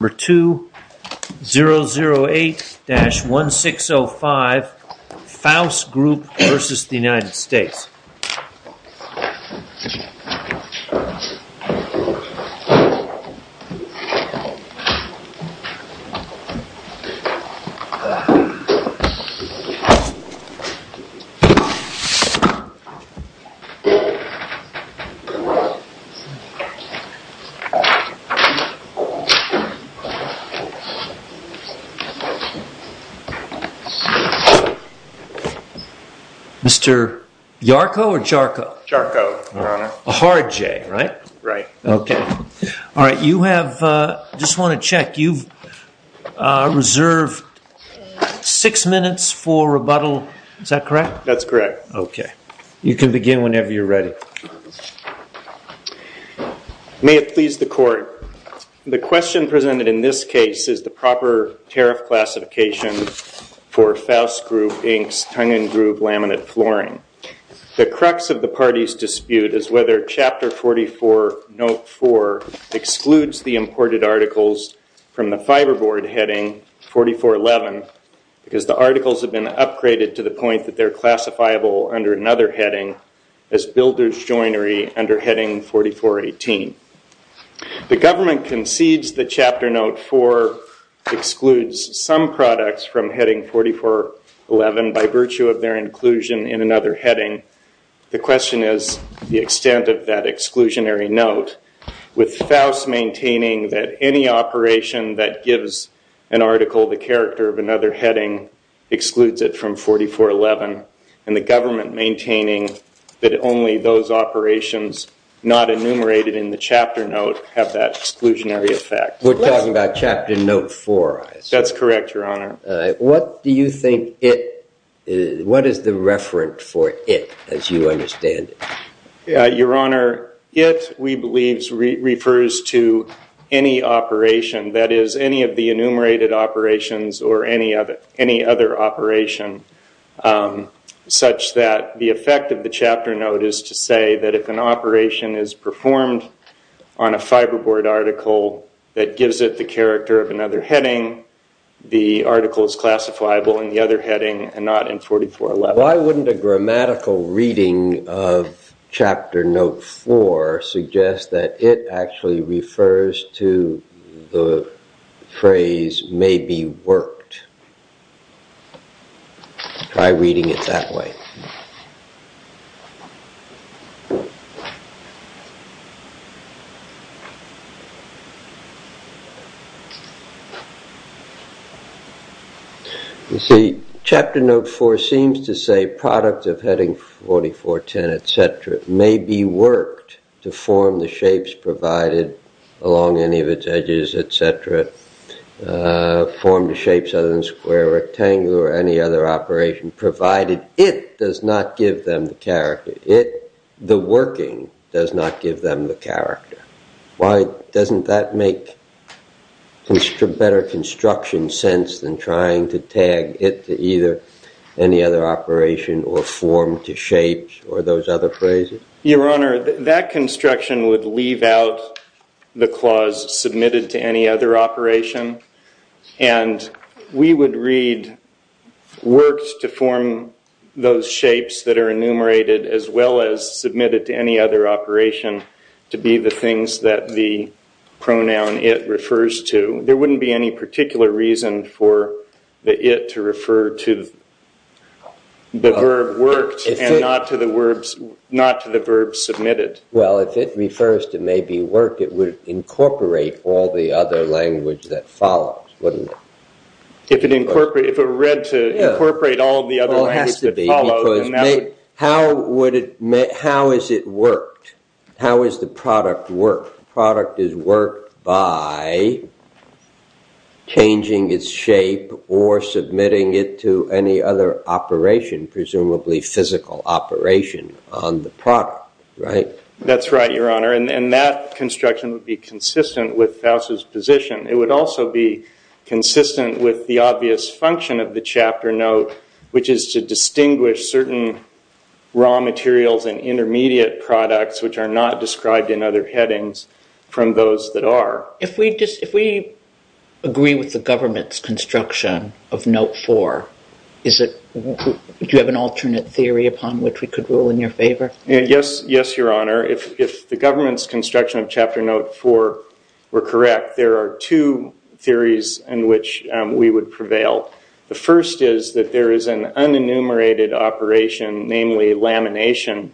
Number 2, 008-1605, Faus Group v. United States. Mr. Yarko or Jarko? Jarko, Your Honor. A hard J, right? Right. Okay. All right. You have, just want to check, you've reserved six minutes for rebuttal, is that correct? That's correct. Okay. You can begin whenever you're ready. May it please the court. The question presented in this case is the proper tariff classification for Faus Group Inc.'s tongue and groove laminate flooring. The crux of the party's dispute is whether Chapter 44, Note 4 excludes the imported articles from the fiberboard heading 4411 because the articles have been upgraded to the point that they're classifiable under another heading as builder's joinery under heading 4418. The government concedes that Chapter Note 4 excludes some products from heading 4411 by virtue of their inclusion in another heading. The question is the extent of that exclusionary note with Faus maintaining that any operation that gives an article the character of another heading excludes it from 4411 and the government maintaining that only those operations not enumerated in the Chapter Note have that exclusionary effect. We're talking about Chapter Note 4. That's correct, Your Honor. What do you think it, what is the referent for it as you understand it? Your Honor, it, we believe, refers to any operation that is any of the enumerated operations or any other operation such that the effect of the Chapter Note is to say that if an operation is performed on a fiberboard article that gives it the character of another heading, the article is classifiable in the other heading and not in 4411. Why wouldn't a grammatical reading of Chapter Note 4 suggest that it actually refers to the phrase may be worked? Try reading it that way. You see, Chapter Note 4 seems to say product of heading 4410, et cetera, may be worked to form the shapes provided along any of its edges, et cetera, form the shapes other than square, rectangular, or any other operation provided it does not give them the character. It, the working, does not give them the character. Why doesn't that make better construction sense than trying to tag it to either any other operation or form to shapes or those other phrases? Your Honor, that construction would leave out the clause submitted to any other operation and we would read worked to form those shapes that are enumerated as well as submitted to any other operation to be the things that the pronoun it refers to. There wouldn't be any particular reason for the it to refer to the verb worked and not to the verb submitted. Well, if it refers to may be worked, it would incorporate all the other language that follows, wouldn't it? If it were read to incorporate all of the other language that follows. Well, it has to be because how is it worked? How is the product worked? The product is worked by changing its shape or submitting it to any other operation, presumably physical operation on the product, right? That's right, Your Honor, and that construction would be consistent with Faust's position. It would also be consistent with the obvious function of the chapter note, which is to distinguish certain raw materials and intermediate products which are not described in other headings from those that are. If we agree with the government's construction of note four, do you have an alternate theory upon which we could rule in your favor? Yes, Your Honor. If the government's construction of chapter note four were correct, there are two theories in which we would prevail. The first is that there is an unenumerated operation, namely lamination,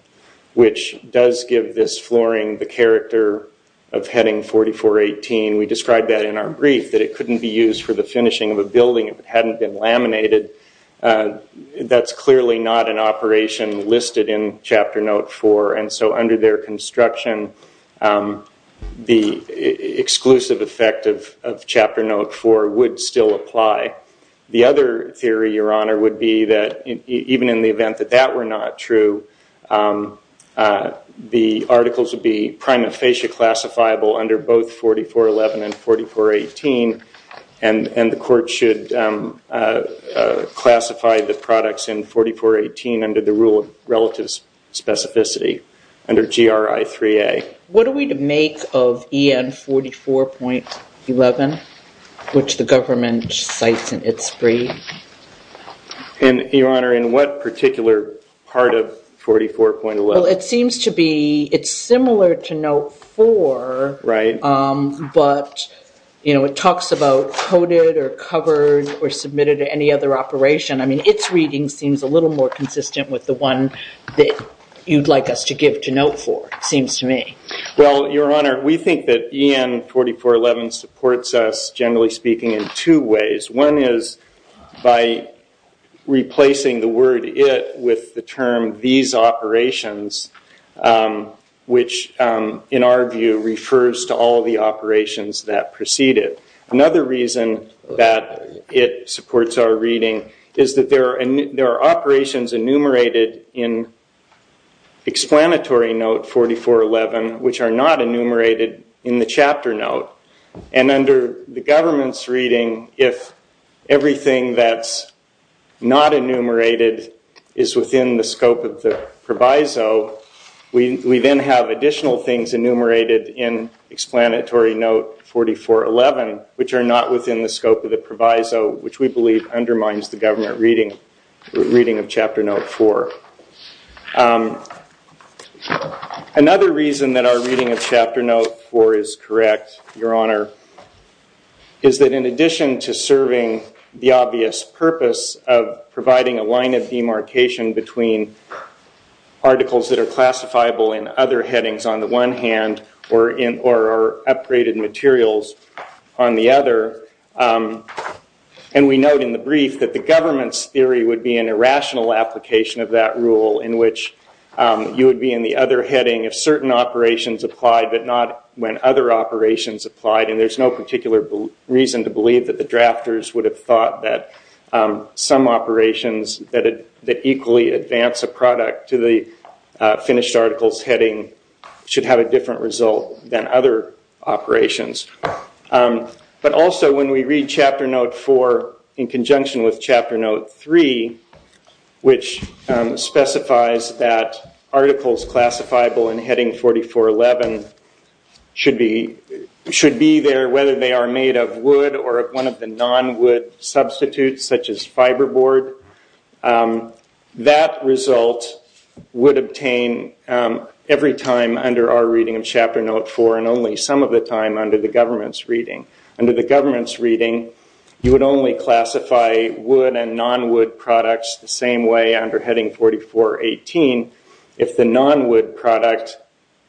which does give this flooring the character of heading 4418. We described that in our brief, that it couldn't be used for the finishing of a building if it hadn't been laminated. That's clearly not an operation listed in chapter note four, and so under their construction, the exclusive effect of chapter note four would still apply. The other theory, Your Honor, would be that even in the event that that were not true, the articles would be prima facie classifiable under both 4411 and 4418, and the court should classify the products in 4418 under the rule of relative specificity, under GRI 3A. What are we to make of EN 44.11, which the government cites in its brief? And, Your Honor, in what particular part of 44.11? Well, it seems to be, it's similar to note four, but it talks about coded or covered or submitted to any other operation. I mean, its reading seems a little more consistent with the one that you'd like us to give to note four, seems to me. Well, Your Honor, we think that EN 44.11 supports us, generally speaking, in two ways. One is by replacing the word it with the term these operations, which in our view refers to all the operations that preceded. Another reason that it supports our reading is that there are operations enumerated in explanatory note 44.11, which are not enumerated in the chapter note, and under the government's reading, if everything that's not enumerated is within the scope of the proviso, we then have additional things enumerated in explanatory note 44.11, which are not within the scope of the proviso, which we believe undermines the government reading of chapter note four. Another reason that our reading of chapter note four is correct, Your Honor, is that in addition to serving the obvious purpose of providing a line of demarcation between articles that are classifiable in other headings on the one hand or in or upgraded materials on the other, and we note in the brief that the government's theory would be an irrational application of that rule in which you would be in the other heading of certain operations applied but not when other operations applied, and there's no particular reason to believe that the drafters would have thought that some operations that equally advance a product to the finished article's heading should have a different result than other operations. But also when we read chapter note four in conjunction with chapter note three, which specifies that articles classifiable in heading 44.11 should be there whether they are made of wood or one of the non-wood substitutes such as fiber board, that result would obtain every time under our reading of chapter note four and only some of the time under the government's reading. Under the government's reading, you would only classify wood and non-wood products the non-wood product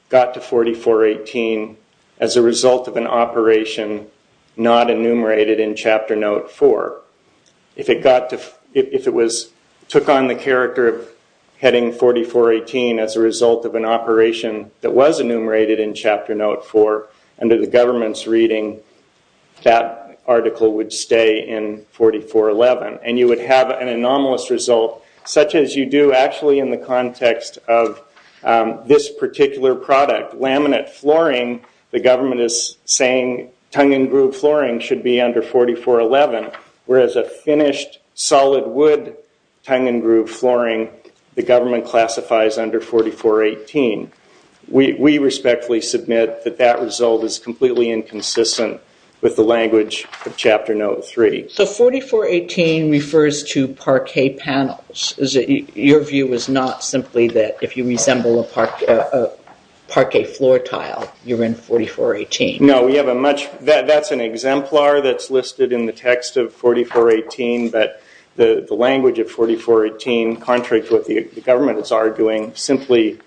got to 44.18 as a result of an operation not enumerated in chapter note four. If it took on the character of heading 44.18 as a result of an operation that was enumerated in chapter note four under the government's reading, that article would stay in 44.11 and you would have an anomalous result such as you do actually in the context of this particular product, laminate flooring, the government is saying tongue and groove flooring should be under 44.11 whereas a finished solid wood tongue and groove flooring, the government classifies under 44.18. We respectfully submit that that result is completely inconsistent with the language of chapter note three. So 44.18 refers to parquet panels. Your view is not simply that if you resemble a parquet floor tile, you're in 44.18. No, that's an exemplar that's listed in the text of 44.18 but the language of 44.18, contrary to what the government is arguing, simply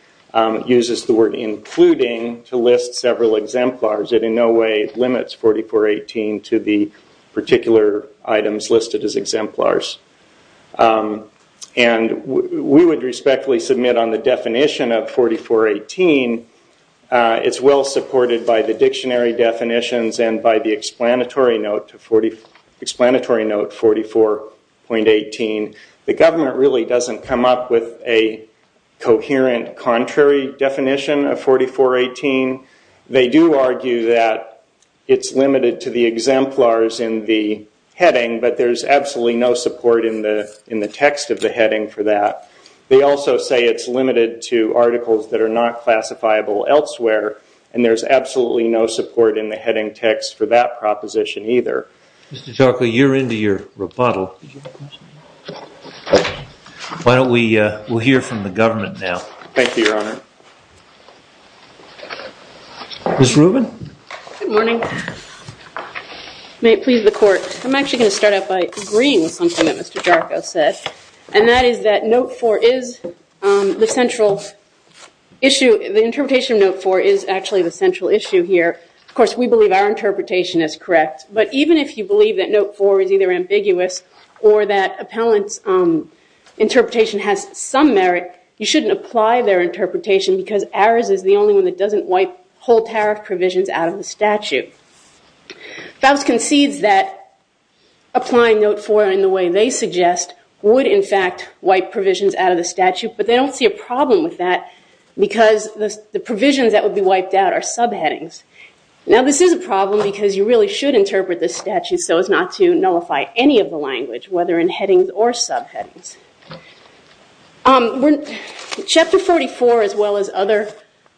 uses the word including to list several exemplars. It in no way limits 44.18 to the particular items listed as exemplars. And we would respectfully submit on the definition of 44.18, it's well supported by the dictionary definitions and by the explanatory note 44.18. The government really doesn't come up with a coherent contrary definition of 44.18. They do argue that it's limited to the exemplars in the heading but there's absolutely no support in the text of the heading for that. They also say it's limited to articles that are not classifiable elsewhere and there's absolutely no support in the heading text for that proposition either. Mr. Chalkley, you're into your rebuttal. Why don't we hear from the government now. Thank you, Your Honor. Ms. Rubin. Good morning. May it please the court. I'm actually going to start out by agreeing with something that Mr. Jarko said and that is that note 4 is the central issue. The interpretation of note 4 is actually the central issue here. Of course, we believe our interpretation is correct but even if you believe that note 4 is either ambiguous or that appellant's interpretation has some merit, you shouldn't apply their interpretation because ours is the only one that doesn't wipe whole tariff provisions out of the statute. Faust concedes that applying note 4 in the way they suggest would in fact wipe provisions out of the statute but they don't see a problem with that because the provisions that would be wiped out are subheadings. Now this is a problem because you really should interpret the statute so as not to nullify any of the language whether in headings or subheadings. Chapter 44 as well as other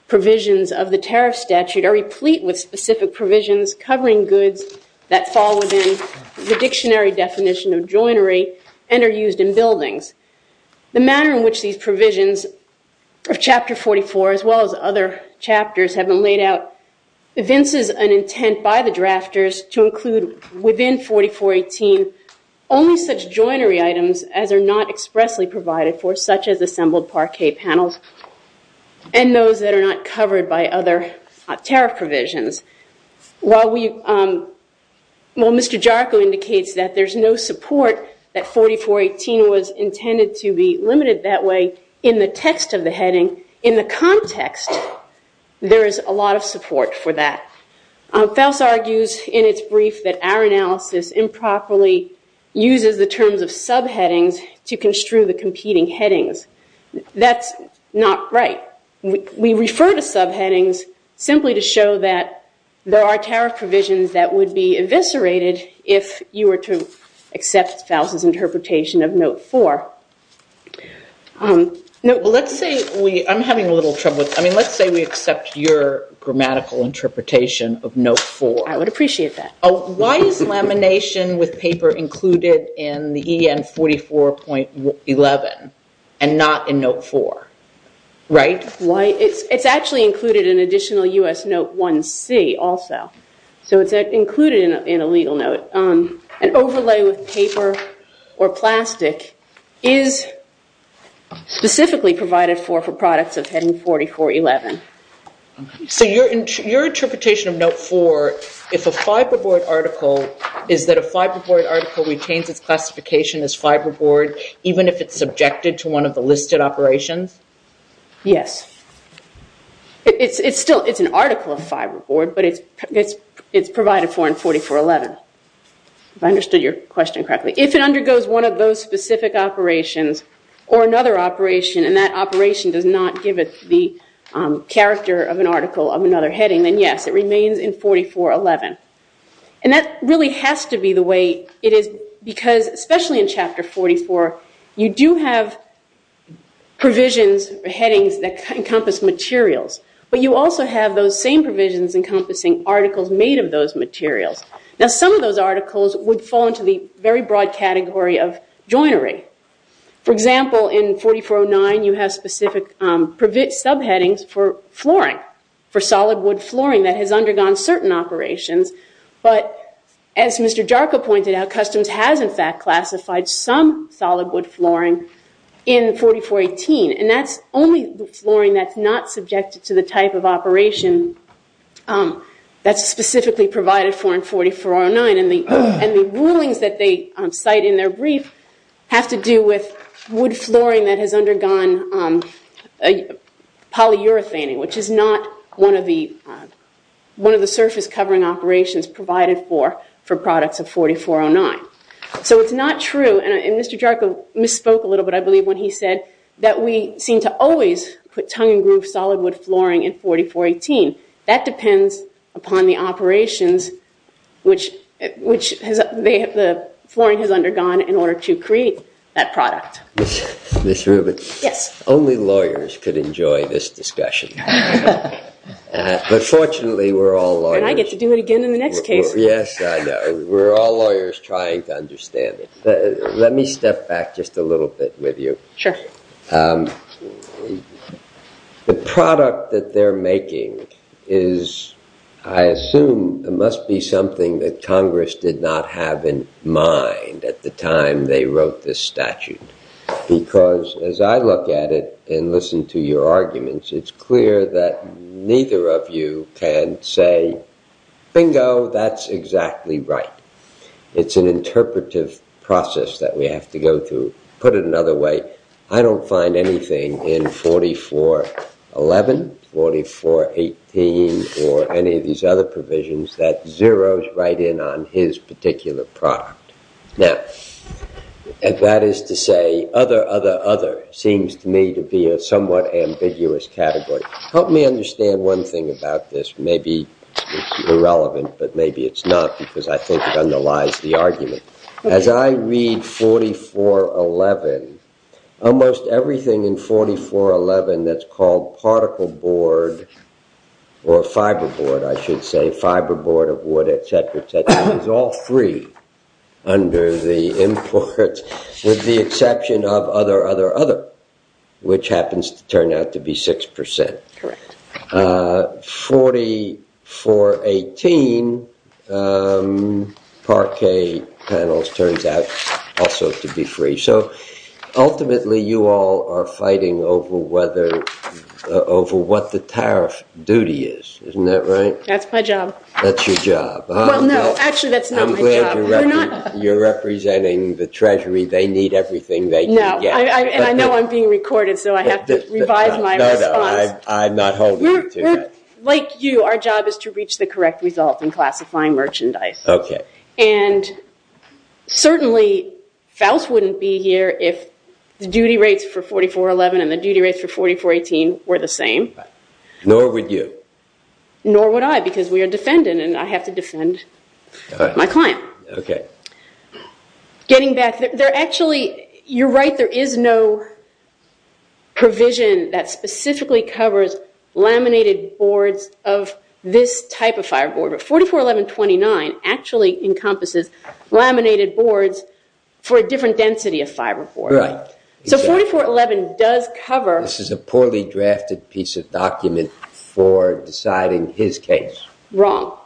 provisions of the tariff statute are replete with specific provisions covering goods that fall within the dictionary definition of joinery and are used in buildings. The manner in which these provisions of Chapter 44 as well as other chapters have been laid out evinces an intent by the drafters to include within 4418 only such joinery items as are not expressly provided for such as assembled parquet panels and those that are not covered by other tariff provisions. While Mr. Jarko indicates that there's no support that 4418 was intended to be limited that way in the text of the heading, in the context there is a lot of support for that. Faust argues in its brief that our analysis improperly uses the terms of subheadings to construe the competing headings. That's not right. We refer to subheadings simply to show that there are tariff provisions that would be Let's say we accept your grammatical interpretation of Note 4. I would appreciate that. Why is lamination with paper included in the EN 44.11 and not in Note 4? It's actually included in additional US Note 1C also. So it's included in a legal note. An overlay with paper or plastic is specifically provided for for products of heading 44.11. So your interpretation of Note 4, if a fiberboard article, is that a fiberboard article retains its classification as fiberboard even if it's subjected to one of the listed operations? Yes. It's still an article of fiberboard, but it's provided for in 44.11. If I understood your question correctly. If it undergoes one of those specific operations or another operation and that operation does not give it the character of an article of another heading, then yes, it remains in 44.11. And that really has to be the way it is because, especially in Chapter 44, you do have provisions or headings that encompass materials. But you also have those same provisions encompassing articles made of those materials. Now some of those articles would fall into the very broad category of joinery. For example, in 44.09, you have specific subheadings for flooring, for solid wood flooring that has undergone certain operations. But as Mr. Jarka pointed out, Customs has in fact classified some solid wood flooring in 44.18. And that's only the flooring that's not subjected to the type of operation that's specifically provided for in 44.09. And the rulings that they cite in their brief have to do with wood flooring that has undergone polyurethane, which is not one of the surface covering operations provided for for products of 44.09. So it's not true. And Mr. Jarka misspoke a little bit, I believe, when he said that we seem to always put tongue and groove solid wood flooring in 44.18. That depends upon the operations which the flooring has undergone in order to create that product. Ms. Rubin, only lawyers could enjoy this discussion. But fortunately, we're all lawyers. And I get to do it again in the next case. Yes, I know. We're all lawyers trying to understand it. Let me step back just a little bit with you. Sure. The product that they're making is, I assume, must be something that Congress did not have in mind at the time they wrote this statute. Because as I look at it and listen to your arguments, it's clear that neither of you can say, bingo, that's exactly right. It's an interpretive process that we have to go through. Put it another way, I don't find anything in 44.11, 44.18, or any of these other provisions that zeroes right in on his particular product. Now, that is to say, other, other, other seems to me to be a somewhat ambiguous category. Help me understand one thing about this. Maybe it's irrelevant, but maybe it's not because I think it underlies the argument. As I read 44.11, almost everything in 44.11 that's called particle board or fiber board, I should say, fiber board of wood, et cetera, et cetera, is all free under the import with the exception of other, other, other, which happens to turn out to be 6%. 44.18, parquet panels turns out also to be free. Ultimately, you all are fighting over what the tariff duty is. Isn't that right? That's my job. That's your job. Well, no. Actually, that's not my job. I'm glad you're representing the treasury. They need everything they can get. No. I know I'm being recorded, so I have to revise my response. No, no. I'm not holding you to that. Like you, our job is to reach the correct result in classifying merchandise. Okay. Certainly, Faust wouldn't be here if the duty rates for 44.11 and the duty rates for 44.18 were the same. Nor would you. Nor would I because we are defendant and I have to defend my client. Okay. Getting back, you're right. There is no provision that specifically covers laminated boards of this type of fiber board. 44.11.29 actually encompasses laminated boards for a different density of fiber board. Right. So 44.11 does cover- This is a poorly drafted piece of document for deciding his case. Wrong.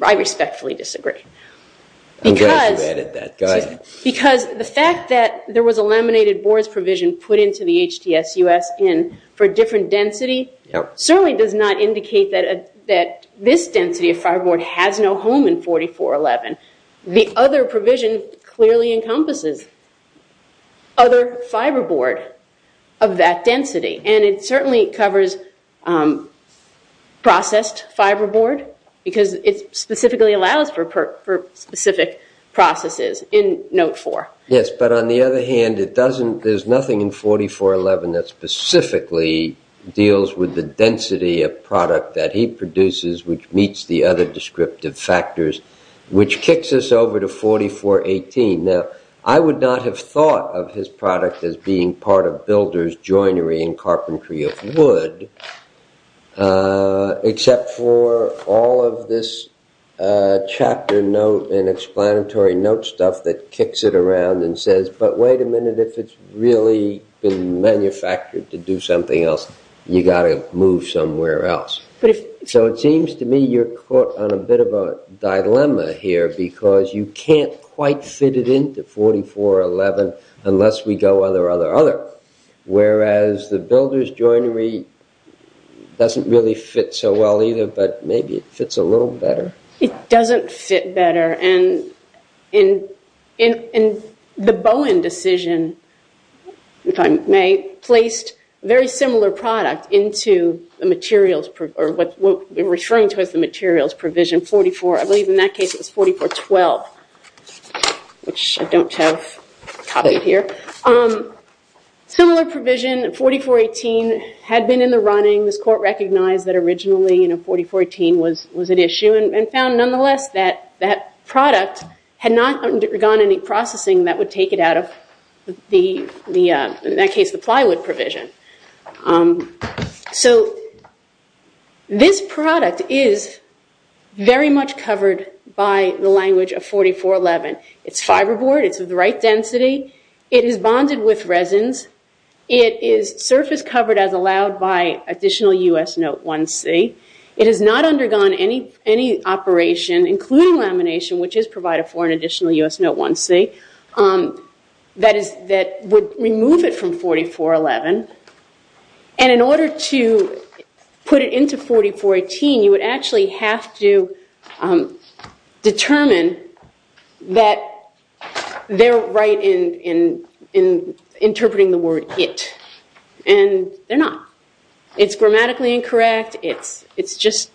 I respectfully disagree. I'm glad you added that. Go ahead. Because the fact that there was a laminated boards provision put into the HTSUS for a different density certainly does not indicate that this density of fiber board has no home in 44.11. The other provision clearly encompasses other fiber board of that density. And it certainly covers processed fiber board because it specifically allows for specific processes in note four. Yes, but on the other hand, there's nothing in 44.11 that specifically deals with the density of product that he produces which meets the other descriptive factors, which kicks us over to 44.18. Now, I would not have thought of his product as being part of builder's joinery and carpentry of wood, except for all of this chapter note and explanatory note stuff that kicks it around and says, but wait a minute, if it's really been manufactured to do something else, you got to move somewhere else. So it seems to me you're caught on a bit of a dilemma here because you can't quite fit it into 44.11 unless we go other, other, other. Whereas the builder's joinery doesn't really fit so well either, but maybe it fits a little better. It doesn't fit better, and the Bowen decision, if I may, placed a very similar product into the materials, or what we're referring to as the materials provision 44, I believe in that case it was 44.12, which I don't have copied here. Similar provision, 44.18 had been in the running. This court recognized that originally 44.18 was an issue and found nonetheless that that product had not undergone any processing that would take it out of the, in that case, the plywood provision. So this product is very much covered by the language of 44.11. It's fiberboard. It's of the right density. It is bonded with resins. It is surface covered as allowed by additional U.S. Note 1C. It has not undergone any operation, including lamination, which is provided for in additional U.S. Note 1C, that would remove it from 44.11. And in order to put it into 44.18, you would actually have to determine that they're right in interpreting the word it, and they're not. It's grammatically incorrect. It's just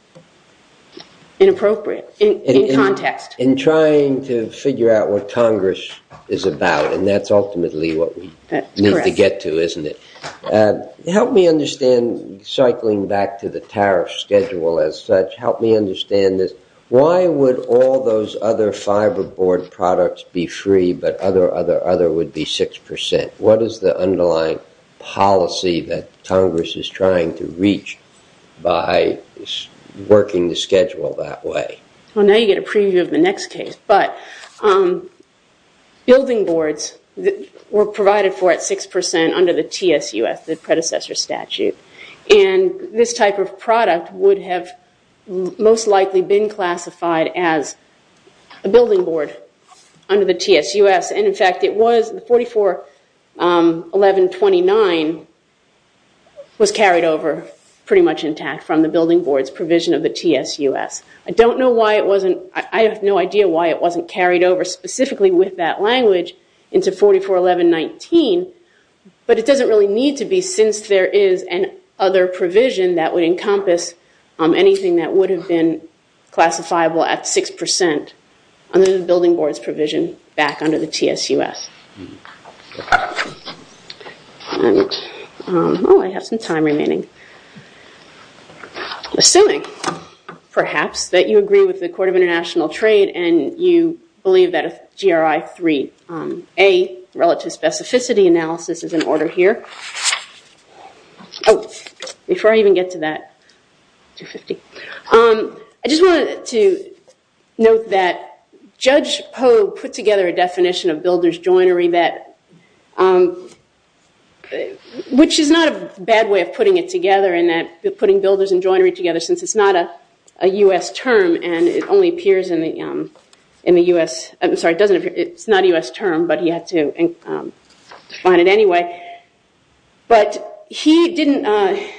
inappropriate in context. In trying to figure out what Congress is about, and that's ultimately what we need to get to, isn't it? That's correct. Help me understand, cycling back to the tariff schedule as such, help me understand this. Why would all those other fiberboard products be free but other, other, other would be 6%? What is the underlying policy that Congress is trying to reach by working the schedule that way? Well, now you get a preview of the next case. But building boards were provided for at 6% under the TSUS, the predecessor statute. And this type of product would have most likely been classified as a building board under the TSUS. And in fact, it was 44.11.29 was carried over pretty much intact from the building board's provision of the TSUS. I don't know why it wasn't, I have no idea why it wasn't carried over specifically with that language into 44.11.19, but it doesn't really need to be since there is an other provision that would encompass anything that would have been classifiable at 6% under the building board's provision back under the TSUS. Oh, I have some time remaining. Assuming, perhaps, that you agree with the Court of International Trade and you believe that a GRI 3A relative specificity analysis is in order here. Oh, before I even get to that, I just wanted to note that Judge Poe put together a definition of builder's joint and joinery, which is not a bad way of putting it together, putting builder's and joinery together, since it's not a U.S. term and it only appears in the U.S. I'm sorry, it's not a U.S. term, but he had to find it anyway. But he included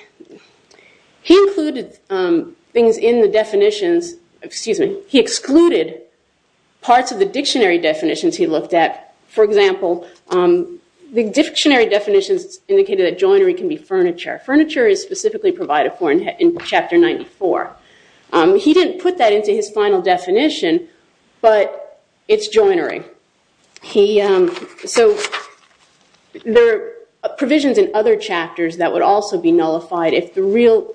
parts of the dictionary definitions he looked at. For example, the dictionary definitions indicated that joinery can be furniture. Furniture is specifically provided for in Chapter 94. He didn't put that into his final definition, but it's joinery. So there are provisions in other chapters that would also be nullified if the real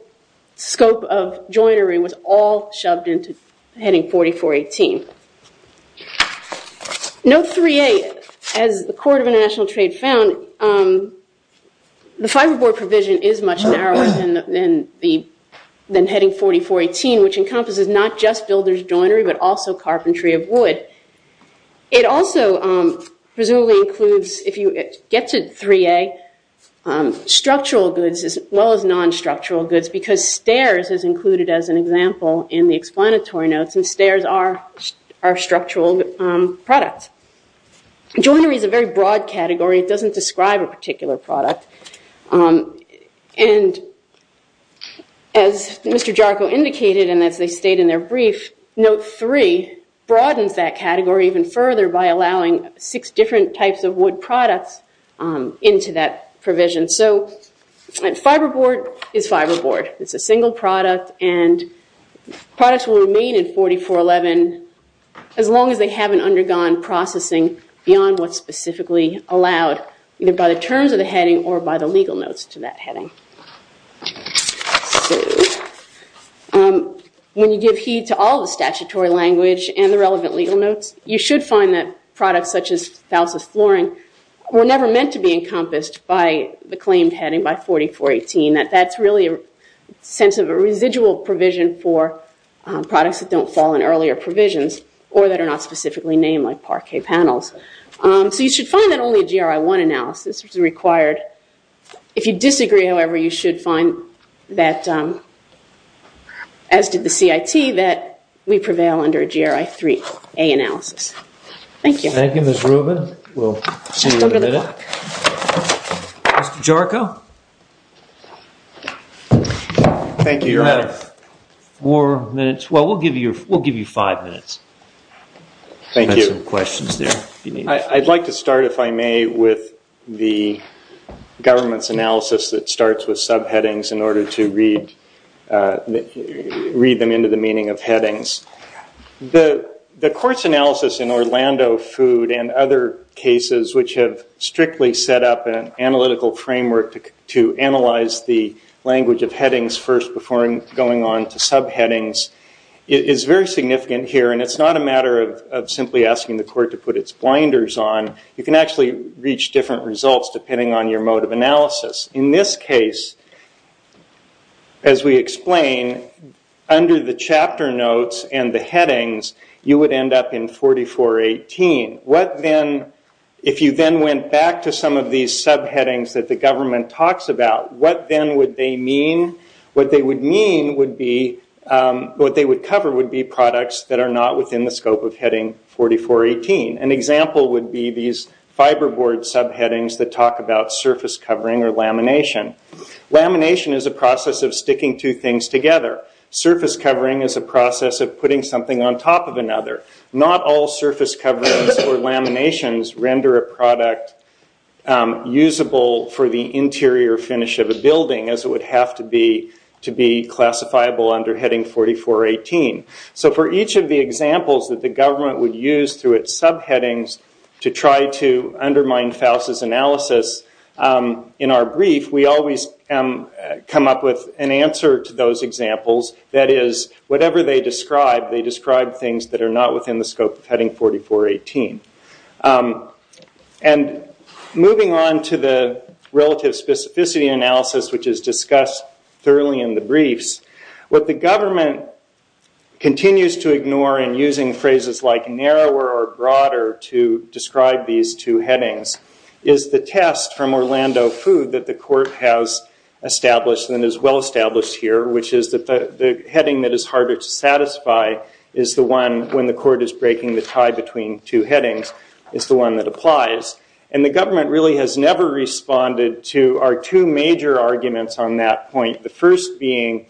scope of joinery was all shoved into Heading 4418. Note 3A, as the Court of International Trade found, the fiberboard provision is much narrower than Heading 4418, which encompasses not just builder's joinery but also carpentry of wood. It also presumably includes, if you get to 3A, structural goods as well as non-structural goods because stairs is included as an example in the explanatory notes, and stairs are structural products. Joinery is a very broad category. It doesn't describe a particular product. And as Mr. Jarko indicated and as they state in their brief, Note 3 broadens that category even further by allowing six different types of wood products into that provision. So fiberboard is fiberboard. It's a single product, and products will remain in 4411 as long as they haven't undergone processing beyond what's specifically allowed, either by the terms of the heading or by the legal notes to that heading. When you give heed to all the statutory language and the relevant legal notes, you should find that products such as falces flooring were never meant to be encompassed by the claimed heading by 4418. That's really a sense of a residual provision for products that don't fall in earlier provisions or that are not specifically named like parquet panels. So you should find that only a GRI-1 analysis is required. If you disagree, however, you should find that, as did the CIT, that we prevail under a GRI-3A analysis. Thank you. Thank you, Ms. Rubin. We'll see you in a minute. Mr. Jarko? Thank you, Your Honor. You have four minutes. Well, we'll give you five minutes. Thank you. I'd like to start, if I may, with the government's analysis that starts with subheadings in order to read them into the meaning of headings. The court's analysis in Orlando Food and other cases which have strictly set up an analytical framework to analyze the language of headings first before going on to subheadings is very significant here, and it's not a matter of simply asking the court to put its blinders on. You can actually reach different results depending on your mode of analysis. In this case, as we explained, under the chapter notes and the headings, you would end up in 4418. If you then went back to some of these subheadings that the government talks about, what then would they mean? What they would cover would be products that are not within the scope of heading 4418. An example would be these fiberboard subheadings that talk about surface covering or lamination. Lamination is a process of sticking two things together. Surface covering is a process of putting something on top of another. Not all surface coverings or laminations render a product usable for the interior finish of a building as it would have to be to be classifiable under heading 4418. For each of the examples that the government would use through its subheadings to try to undermine Faust's analysis, in our brief, we always come up with an answer to those examples. That is, whatever they describe, they describe things that are not within the scope of heading 4418. Moving on to the relative specificity analysis, which is discussed thoroughly in the briefs, what the government continues to ignore in using phrases like narrower or broader to describe these two headings is the test from Orlando Food that the court has established and is well-established here, which is that the heading that is harder to satisfy is the one when the court is breaking the tie between two headings. It's the one that applies. The government really has never responded to our two major arguments on that point, the first being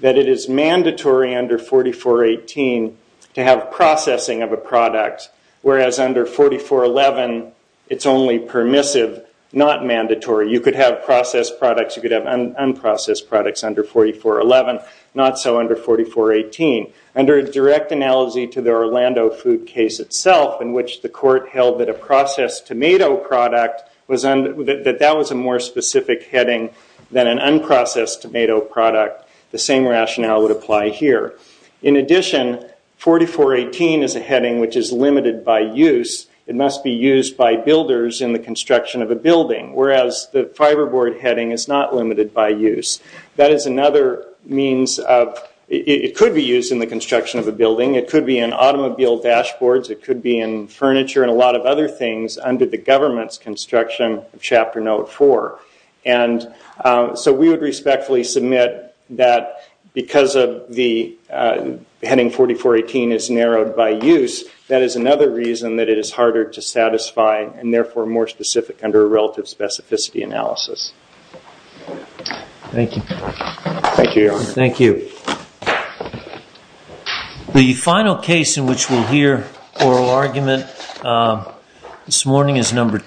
that it is mandatory under 4418 to have processing of a product, whereas under 4411 it's only permissive, not mandatory. You could have processed products, you could have unprocessed products under 4411, not so under 4418. Under a direct analogy to the Orlando Food case itself, in which the court held that a processed tomato product, that that was a more specific heading than an unprocessed tomato product, the same rationale would apply here. In addition, 4418 is a heading which is limited by use. It must be used by builders in the construction of a building, whereas the fiberboard heading is not limited by use. That is another means of, it could be used in the construction of a building, it could be in automobile dashboards, it could be in furniture and a lot of other things under the government's construction of Chapter Note 4. And so we would respectfully submit that because of the heading 4418 is narrowed by use, that is another reason that it is harder to satisfy and therefore more specific under a relative specificity analysis. Thank you. Thank you, Your Honor. Thank you. The final case in which we'll hear oral argument this morning is number two.